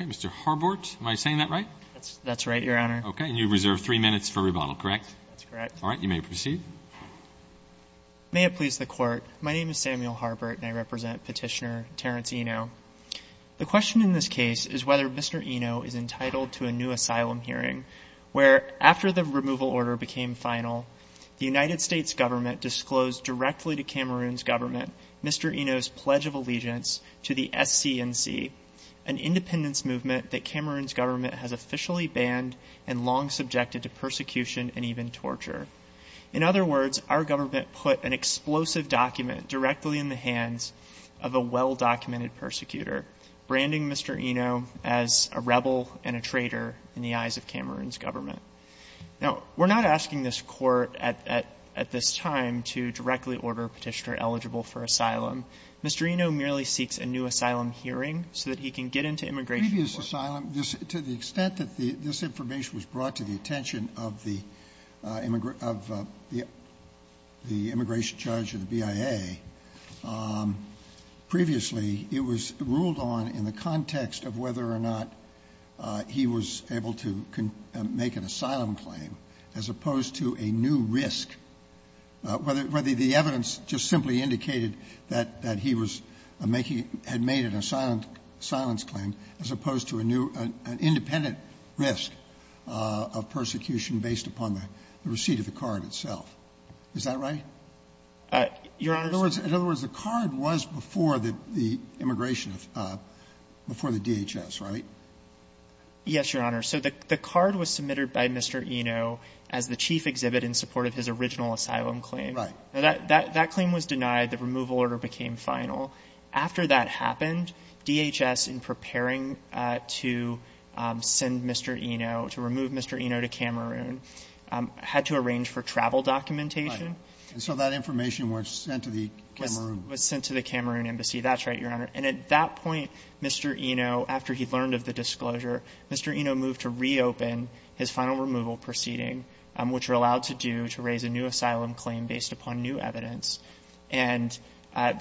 Mr. Harbort, am I saying that right? That's right, Your Honor. Okay. And you reserve three minutes for rebuttal, correct? That's correct. All right. You may proceed. May it please the Court, my name is Samuel Harbort and I represent Petitioner Terrence Enoh. The question in this case is whether Mr. Enoh is entitled to a new asylum hearing where after the removal order became final, the United States government disclosed directly to Cameroon's government Mr. Enoh's Pledge of Allegiance to the SCNC, an independence In other words, our government put an explosive document directly in the hands of a well-documented persecutor, branding Mr. Enoh as a rebel and a traitor in the eyes of Cameroon's government. Now, we're not asking this Court at this time to directly order Petitioner eligible for asylum. Mr. Enoh merely seeks a new asylum hearing so that he can get into immigration court. The previous asylum, to the extent that this information was brought to the attention of the immigration judge of the BIA, previously it was ruled on in the context of whether or not he was able to make an asylum claim as opposed to a new risk, whether the evidence just simply indicated that he was making an asylum claim as opposed to a new, an independent risk of persecution based upon the receipt of the card itself. Is that right? In other words, the card was before the immigration, before the DHS, right? Yes, Your Honor. So the card was submitted by Mr. Enoh as the chief exhibit in support of his original asylum claim. Right. Now, that claim was denied. The removal order became final. After that happened, DHS, in preparing to send Mr. Enoh, to remove Mr. Enoh to Cameroon, had to arrange for travel documentation. Right. And so that information was sent to the Cameroon. Was sent to the Cameroon embassy. That's right, Your Honor. And at that point, Mr. Enoh, after he learned of the disclosure, Mr. Enoh moved to reopen his final removal proceeding, which you're allowed to do to raise a new asylum claim based upon new evidence. And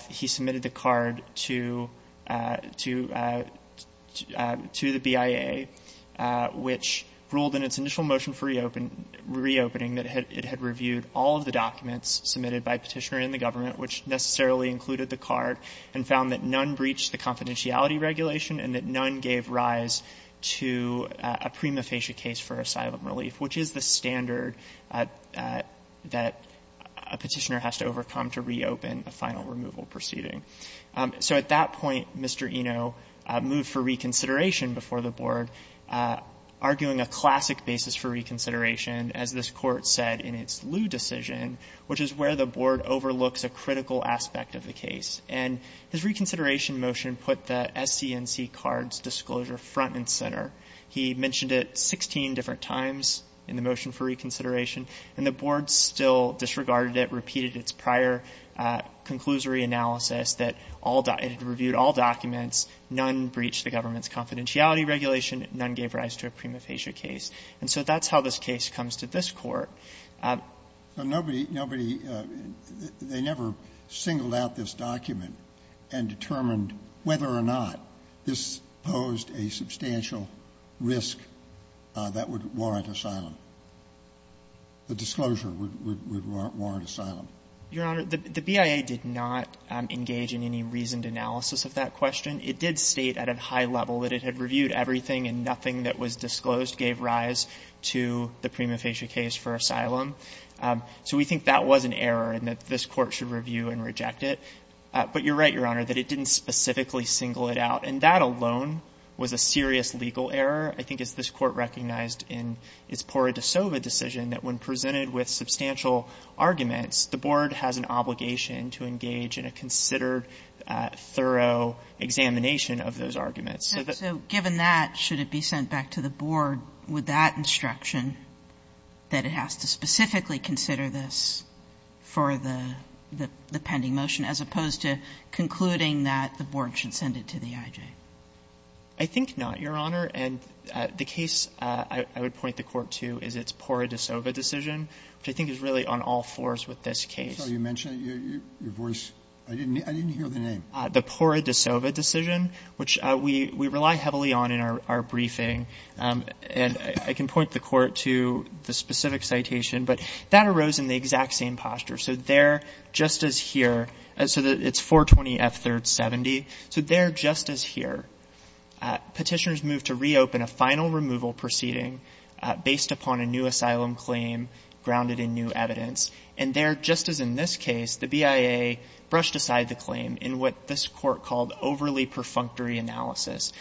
he submitted the card to the BIA, which ruled in its initial motion for reopening that it had reviewed all of the documents submitted by Petitioner and the government, which necessarily included the card, and found that none breached the confidentiality regulation, and that none gave rise to a prima facie case for asylum relief, which is the standard that a Petitioner has to overcome to reopen a final removal proceeding. So at that point, Mr. Enoh moved for reconsideration before the Board, arguing a classic basis for reconsideration, as this Court said in its Lew decision, which is where the Board overlooks a critical aspect of the case. And his reconsideration motion put the SCNC cards disclosure front and center. He mentioned it 16 different times in the motion for reconsideration, and the Board still disregarded it, repeated its prior conclusory analysis that it had reviewed all documents, none breached the government's confidentiality regulation, none gave rise to a prima facie case. And so that's how this case comes to this Court. Sotomayor, they never singled out this document and determined whether or not this was a substantial risk that would warrant asylum, the disclosure would warrant asylum. Your Honor, the BIA did not engage in any reasoned analysis of that question. It did state at a high level that it had reviewed everything, and nothing that was disclosed gave rise to the prima facie case for asylum. So we think that was an error, and that this Court should review and reject it. But you're right, Your Honor, that it didn't specifically single it out. And that alone was a serious legal error. I think as this Court recognized in its Pura de Sova decision that when presented with substantial arguments, the Board has an obligation to engage in a considered, thorough examination of those arguments. So given that, should it be sent back to the Board with that instruction that it has to specifically consider this for the pending motion, as opposed to concluding that the Board should send it to the IJ? I think not, Your Honor. And the case I would point the Court to is its Pura de Sova decision, which I think is really on all fours with this case. I'm sorry, you mentioned it, your voice, I didn't hear the name. The Pura de Sova decision, which we rely heavily on in our briefing, and I can point the Court to the specific citation, but that arose in the exact same posture. So there, just as here, so it's 420 F. 3rd. 70, so there, just as here, Petitioners moved to reopen a final removal proceeding based upon a new asylum claim grounded in new evidence, and there, just as in this case, the BIA brushed aside the claim in what this Court called overly perfunctory analysis.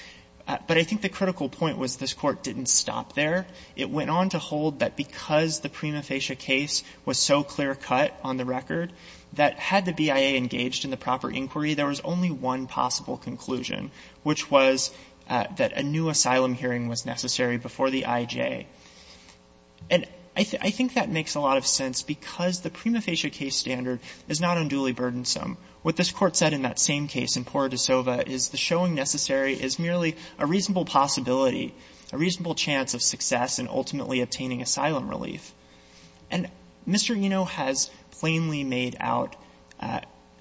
But I think the critical point was this Court didn't stop there. It went on to hold that because the prima facie case was so clear-cut on the record, that had the BIA engaged in the proper inquiry, there was only one possible conclusion, which was that a new asylum hearing was necessary before the IJ. And I think that makes a lot of sense because the prima facie case standard is not unduly burdensome. What this Court said in that same case in Pura de Sova is the showing necessary is merely a reasonable possibility, a reasonable chance of success in ultimately obtaining asylum relief. And Mr. Eno has plainly made out,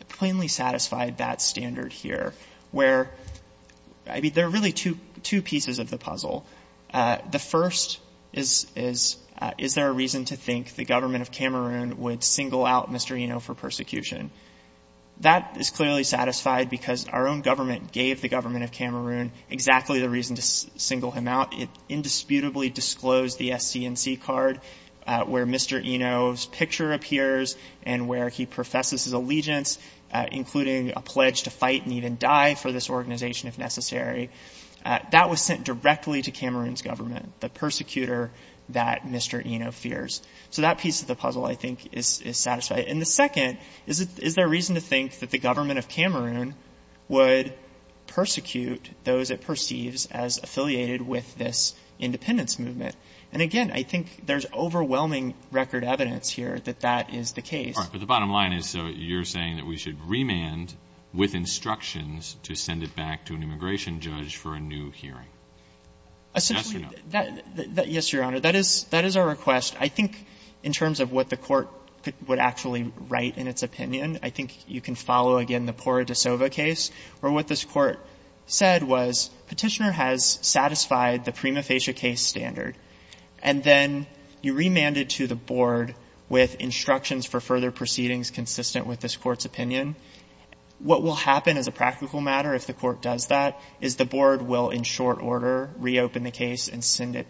plainly satisfied that standard here, where, I mean, there are really two pieces of the puzzle. The first is, is there a reason to think the government of Cameroon would single out Mr. Eno for persecution? That is clearly satisfied because our own government gave the government of Cameroon exactly the reason to single him out. It indisputably disclosed the SCNC card where Mr. Eno's picture appears and where he professes his allegiance, including a pledge to fight and even die for this organization if necessary. That was sent directly to Cameroon's government, the persecutor that Mr. Eno fears. So that piece of the puzzle, I think, is satisfied. And the second is, is there a reason to think that the government of Cameroon would persecute those it perceives as affiliated with this independence movement? And again, I think there's overwhelming record evidence here that that is the case. Alitoson But the bottom line is, so you're saying that we should remand with instructions to send it back to an immigration judge for a new hearing. Yes or no? Fisher Essentially, yes, Your Honor. That is our request. I think in terms of what the court would actually write in its opinion, I think you can follow, again, the Porra da Sova case where what this court said was, Petitioner has satisfied the prima facie case standard. And then you remanded to the board with instructions for further proceedings consistent with this court's opinion. What will happen as a practical matter if the court does that is the board will, in short order, reopen the case and send it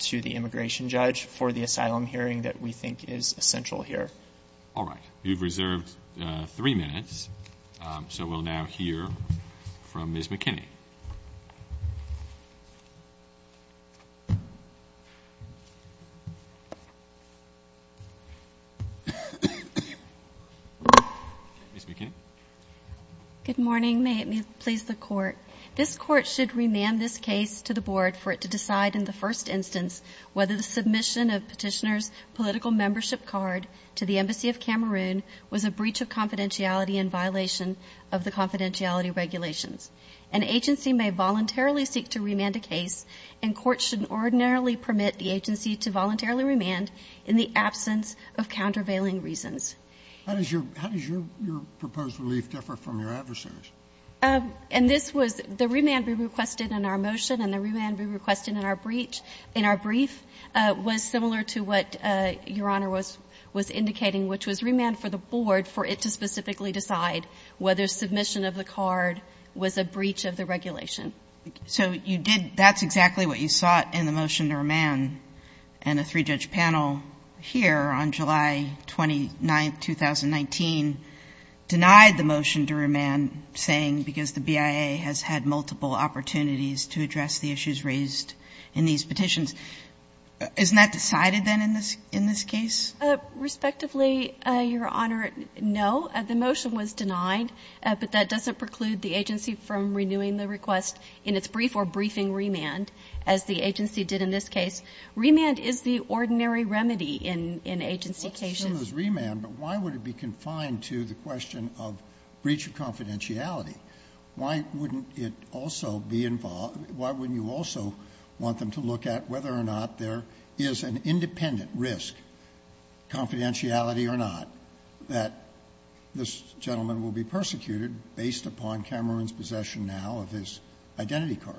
to the immigration judge for the asylum hearing that we think is essential here. Alitoson All right. You've reserved three minutes. So we'll now hear from Ms. McKinney. Ms. McKinney Good morning. May it please the Court. This court should remand this case to the board for it to decide in the first instance whether the submission of Petitioner's political membership card to the Embassy of Cameroon was a breach of confidentiality in violation of the confidentiality regulations. An agency may voluntarily seek to remand a case, and courts should ordinarily permit the agency to voluntarily remand in the absence of countervailing reasons. How does your proposed relief differ from your adversary's? Ms. McKinney And this was the remand we requested in our motion and the remand we requested in our breach, in our brief, was similar to what Your Honor was indicating, which was remand for the board for it to specifically decide whether submission of the card was a breach of the regulation. Justice Sotomayor So you did, that's exactly what you sought in the motion to remand and a three-judge panel here on July 29th, 2019, denied the motion to remand saying because the BIA has had multiple opportunities to address the issues raised in these petitions. Isn't that decided then in this case? Ms. McKinney Respectively, Your Honor, no. The motion was denied, but that doesn't preclude the agency from renewing the request in its brief or remand is the ordinary remedy in agency cases. Justice Sotomayor Let's assume it was remand, but why would it be confined to the question of breach of confidentiality? Why wouldn't it also be involved why wouldn't you also want them to look at whether or not there is an independent risk, confidentiality or not, that this gentleman will be persecuted based upon Cameron's possession now of his identity card?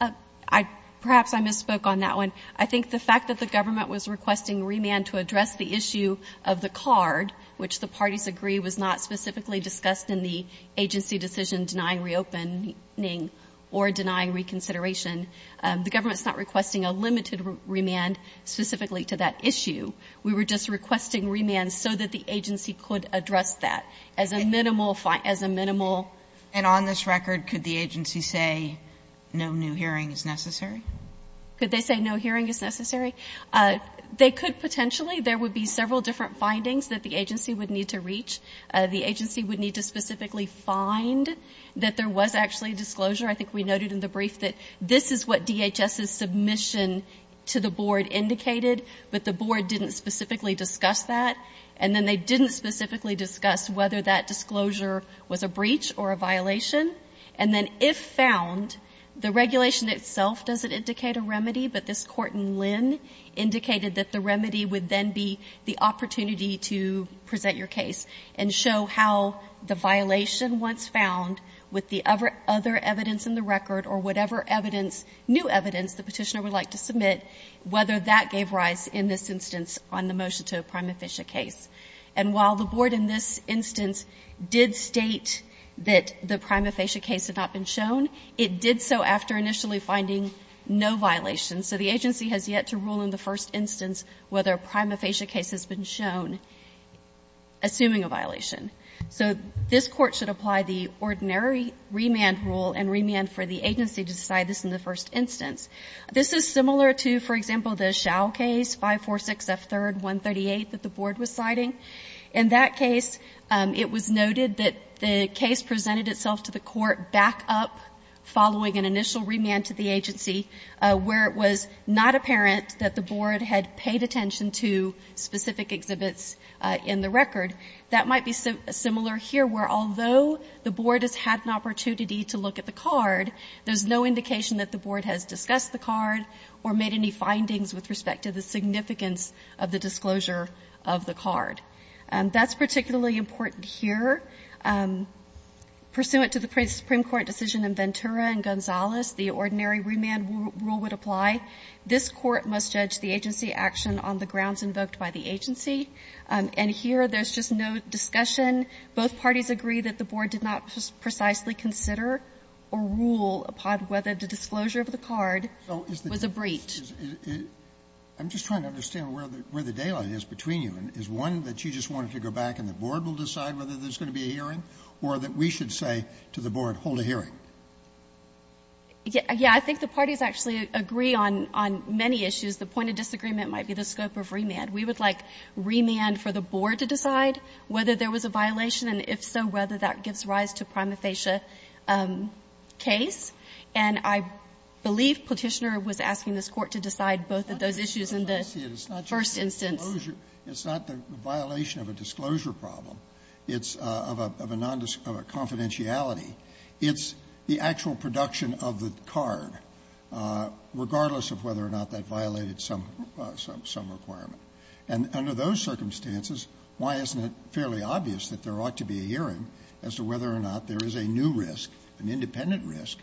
Ms. McKinney Perhaps I misspoke on that one. I think the fact that the government was requesting remand to address the issue of the card, which the parties agree was not specifically discussed in the agency decision denying reopening or denying reconsideration. The government is not requesting a limited remand specifically to that issue. We were just requesting remand so that the agency could address that as a minimal fine, as a minimal And on this record, could the agency say no new hearing is necessary? Ms. McKinney Could they say no hearing is necessary? They could potentially. There would be several different findings that the agency would need to reach. The agency would need to specifically find that there was actually disclosure. I think we noted in the brief that this is what DHS's submission to the board indicated, but the board didn't specifically discuss that. And then they didn't specifically discuss whether that disclosure was a breach or a violation. And then if found, the regulation itself doesn't indicate a remedy, but this court in Lynn indicated that the remedy would then be the opportunity to present your case and show how the violation once found with the other evidence in the record or whatever new evidence the petitioner would like to submit, whether that gave rise in this instance on the motion to a prima ficia case. And while the board in this instance did state that the prima ficia case had not been shown, it did so after initially finding no violations. So the agency has yet to rule in the first instance whether a prima ficia case has been shown, assuming a violation. So this court should apply the ordinary remand rule and remand for the agency to decide this in the first instance. This is similar to, for example, the Schau case, 546F3rd 138 that the board was citing. In that case, it was noted that the case presented itself to the court back up following an initial remand to the agency, where it was not apparent that the board had paid attention to specific exhibits in the record. That might be similar here, where although the board has had an opportunity to look at the card, there's no indication that the board has discussed the card or made any findings with respect to the significance of the disclosure of the card. That's particularly important here. Pursuant to the Supreme Court decision in Ventura and Gonzales, the ordinary remand rule would apply. This court must judge the agency action on the grounds invoked by the agency. And here, there's just no discussion. Both parties agree that the board did not precisely consider or rule upon whether the disclosure of the card was a breach. Sotomayor, I'm just trying to understand where the daylight is between you. Is one that you just wanted to go back and the board will decide whether there's going to be a hearing, or that we should say to the board, hold a hearing? Yeah, I think the parties actually agree on many issues. The point of disagreement might be the scope of remand. We would like remand for the board to decide whether there was a violation, and if so, whether that gives rise to a prima facie case. And I believe Petitioner was asking this Court to decide both of those issues in the first instance. It's not just a disclosure. It's not the violation of a disclosure problem. It's of a confidentiality. It's the actual production of the card, regardless of whether or not that violated some requirement. And under those circumstances, why isn't it fairly obvious that there ought to be a hearing as to whether or not there is a new risk, an independent risk,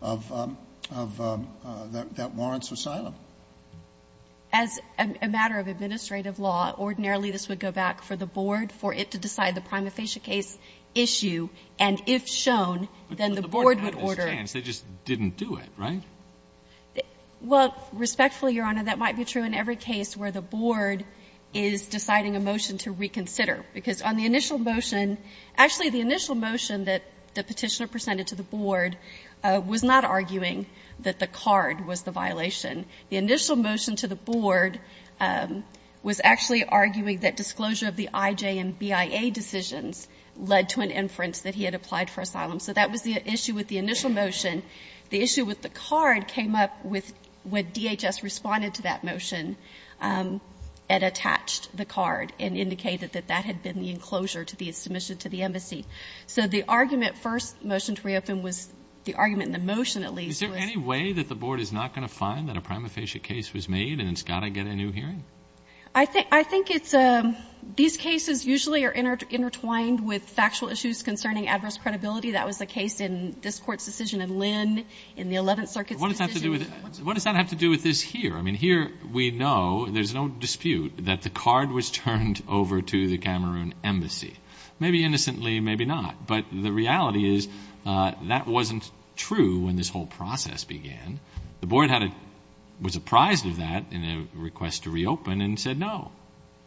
that warrants asylum? As a matter of administrative law, ordinarily this would go back for the board, for it to decide the prima facie case issue, and if shown, then the board would order. But the board didn't have this chance. They just didn't do it, right? Well, respectfully, Your Honor, that might be true in every case where the board is deciding a motion to reconsider. Because on the initial motion, actually the initial motion that the Petitioner presented to the board was not arguing that the card was the violation. The initial motion to the board was actually arguing that disclosure of the IJ and BIA decisions led to an inference that he had applied for asylum. So that was the issue with the initial motion. The issue with the card came up with when DHS responded to that motion and attached the card and indicated that that had been the enclosure to the submission to the embassy. So the argument, first motion to reopen, was the argument in the motion, at least, was the board was not going to find that a prima facie case was made and it's got to get a new hearing? I think it's a ‑‑ these cases usually are intertwined with factual issues concerning adverse credibility. That was the case in this Court's decision in Lynn, in the Eleventh Circuit's decision. What does that have to do with this here? I mean, here we know, there's no dispute, that the card was turned over to the Cameroon embassy. Maybe innocently, maybe not. But the reality is that wasn't true when this whole process began. The board was apprised of that in a request to reopen and said no.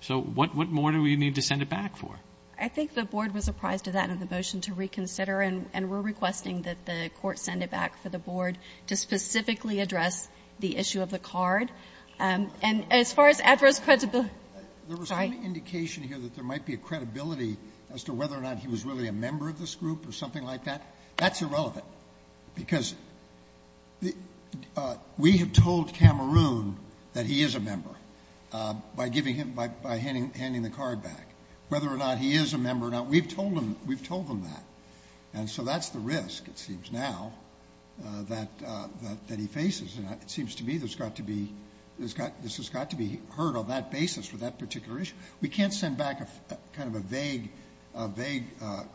So what more do we need to send it back for? I think the board was apprised of that in the motion to reconsider and we're requesting that the Court send it back for the board to specifically address the card. And as far as adverse credibility ‑‑ There was some indication here that there might be a credibility as to whether or not he was really a member of this group or something like that. That's irrelevant. Because we have told Cameroon that he is a member by giving him ‑‑ by handing the card back. Whether or not he is a member or not, we've told them that. And so that's the risk, it seems now, that he faces. And it seems to me there's got to be ‑‑ this has got to be heard on that basis for that particular issue. We can't send back kind of a vague, vague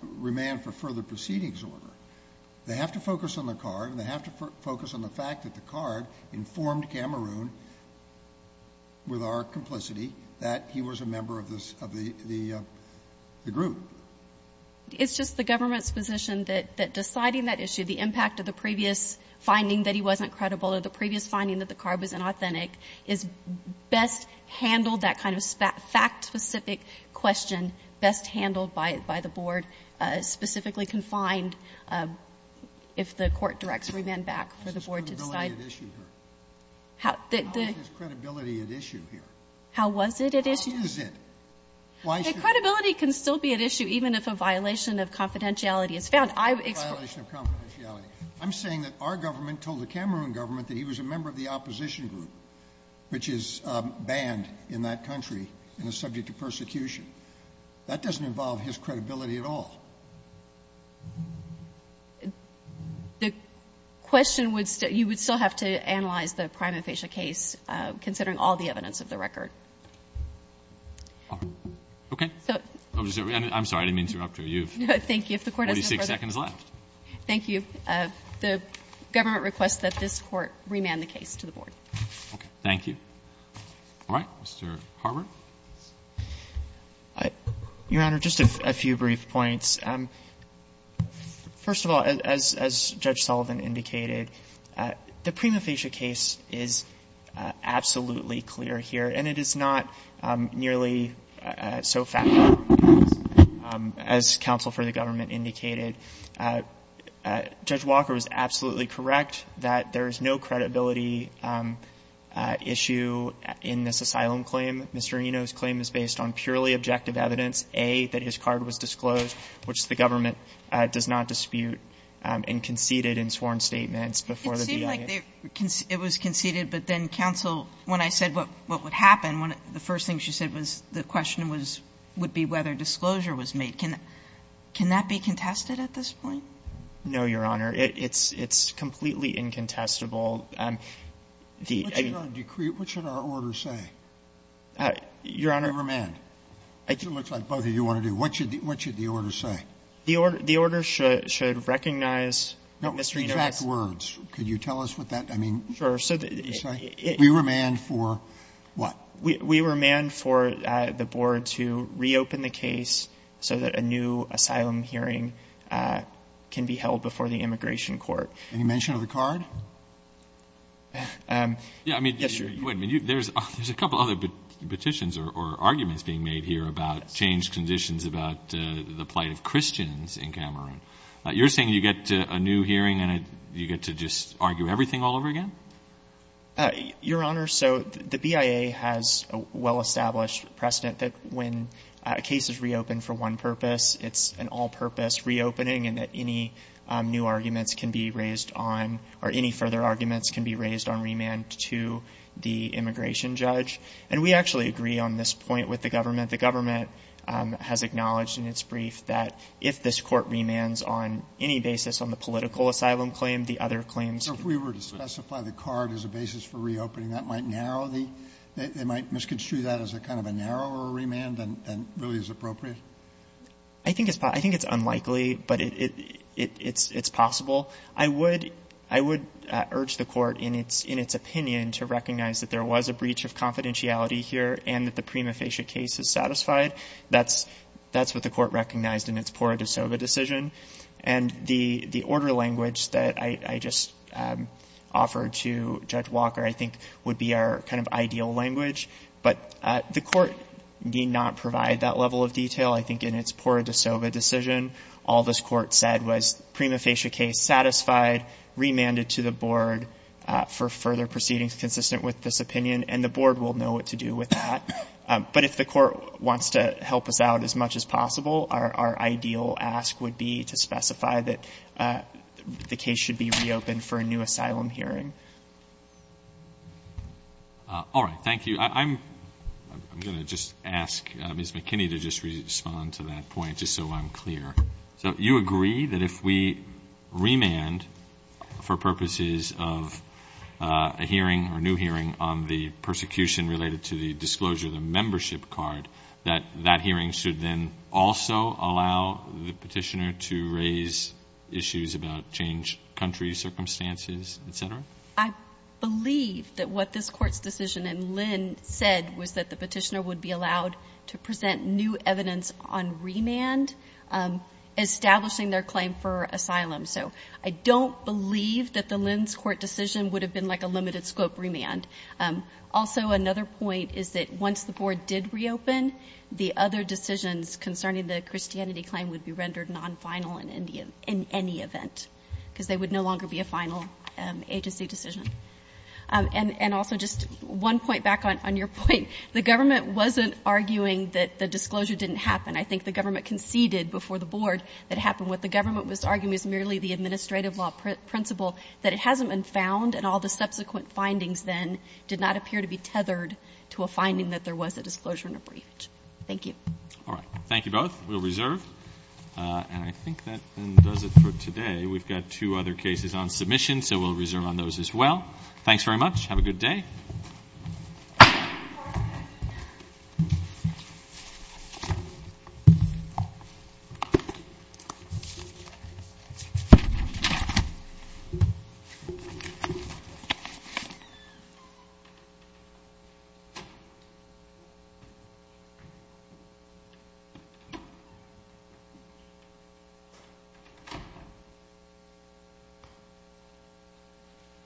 remand for further proceedings order. They have to focus on the card and they have to focus on the fact that the card informed Cameroon with our complicity that he was a member of this ‑‑ of the group. It's just the government's position that deciding that issue, the impact of the previous finding that he wasn't credible or the previous finding that the card was inauthentic is best handled, that kind of fact-specific question, best handled by the board, specifically confined if the court directs remand back for the board to decide. How is his credibility at issue here? How was it at issue? How is it? Why should ‑‑ Credibility can still be at issue even if a violation of confidentiality is found. I'm saying that our government told the Cameroon government that he was a member of the opposition group, which is banned in that country and is subject to persecution. That doesn't involve his credibility at all. The question would still ‑‑ you would still have to analyze the prime infatia case considering all the evidence of the record. Okay. I'm sorry. I didn't mean to interrupt you. No, thank you. If the court has no further ‑‑ 46 seconds left. Thank you. The government requests that this court remand the case to the board. Okay. Thank you. All right. Mr. Harbert. Your Honor, just a few brief points. First of all, as Judge Sullivan indicated, the prime infatia case is absolutely clear here. And it is not nearly so factual as counsel for the government indicated. Judge Walker was absolutely correct that there is no credibility issue in this asylum claim. Mr. Reno's claim is based on purely objective evidence, A, that his card was disclosed, which the government does not dispute, and conceded in sworn statements before the BIA. It was conceded, but then counsel, when I said what would happen, the first thing she said was the question would be whether disclosure was made. Can that be contested at this point? No, Your Honor. It's completely incontestable. What should our order say? Your Honor ‑‑ Remand. It looks like both of you want to do. What should the order say? The order should recognize Mr. Reno's ‑‑ No, with exact words. Could you tell us what that ‑‑ Sure. We remand for what? We remand for the board to reopen the case so that a new asylum hearing can be held before the immigration court. Any mention of the card? Yes, Your Honor. There's a couple of other petitions or arguments being made here about changed conditions about the plight of Christians in Cameroon. You're saying you get a new hearing and you get to just argue everything all over again? Your Honor, so the BIA has a well-established precedent that when a case is reopened for one purpose, it's an all-purpose reopening and that any new arguments can be raised on or any further arguments can be raised on remand to the immigration judge. And we actually agree on this point with the government. The government has acknowledged in its brief that if this court remands on any basis on the political asylum claim, the other claims ‑‑ So if we were to specify the card as a basis for reopening, that might narrow the ‑‑ they might misconstrue that as a kind of a narrower remand than really is appropriate? I think it's unlikely, but it's possible. I would urge the court in its opinion to recognize that there was a breach of confidentiality here and that the prima facie case is satisfied. That's what the court recognized in its Pura de Sova decision. And the order language that I just offered to Judge Walker, I think, would be our kind of ideal language. But the court did not provide that level of detail, I think, in its Pura de Sova decision. All this court said was prima facie case satisfied, remanded to the board for further proceedings is consistent with this opinion, and the board will know what to do with that. But if the court wants to help us out as much as possible, our ideal ask would be to specify that the case should be reopened for a new asylum hearing. All right. Thank you. I'm going to just ask Ms. McKinney to just respond to that point, just so I'm clear. So you agree that if we remand for purposes of a hearing or new hearing on the persecution related to the disclosure of the membership card, that that hearing should then also allow the petitioner to raise issues about change, country, circumstances, et cetera? I believe that what this court's decision and Lynn said was that the petitioner would be allowed to present new evidence on remand, establishing their claim for asylum. So I don't believe that the Lynn's court decision would have been like a limited-scope remand. Also, another point is that once the board did reopen, the other decisions concerning the Christianity claim would be rendered non-final in any event, because they would no longer be a final agency decision. And also just one point back on your point. The government wasn't arguing that the disclosure didn't happen. I think the government conceded before the board that it happened. What the government was arguing is merely the administrative law principle, that it hasn't been found, and all the subsequent findings then did not appear to be tethered to a finding that there was a disclosure and a briefage. Thank you. All right. Thank you both. We'll reserve. And I think that does it for today. We've got two other cases on submission, so we'll reserve on those as well. Thanks very much. Have a good day. Thank you.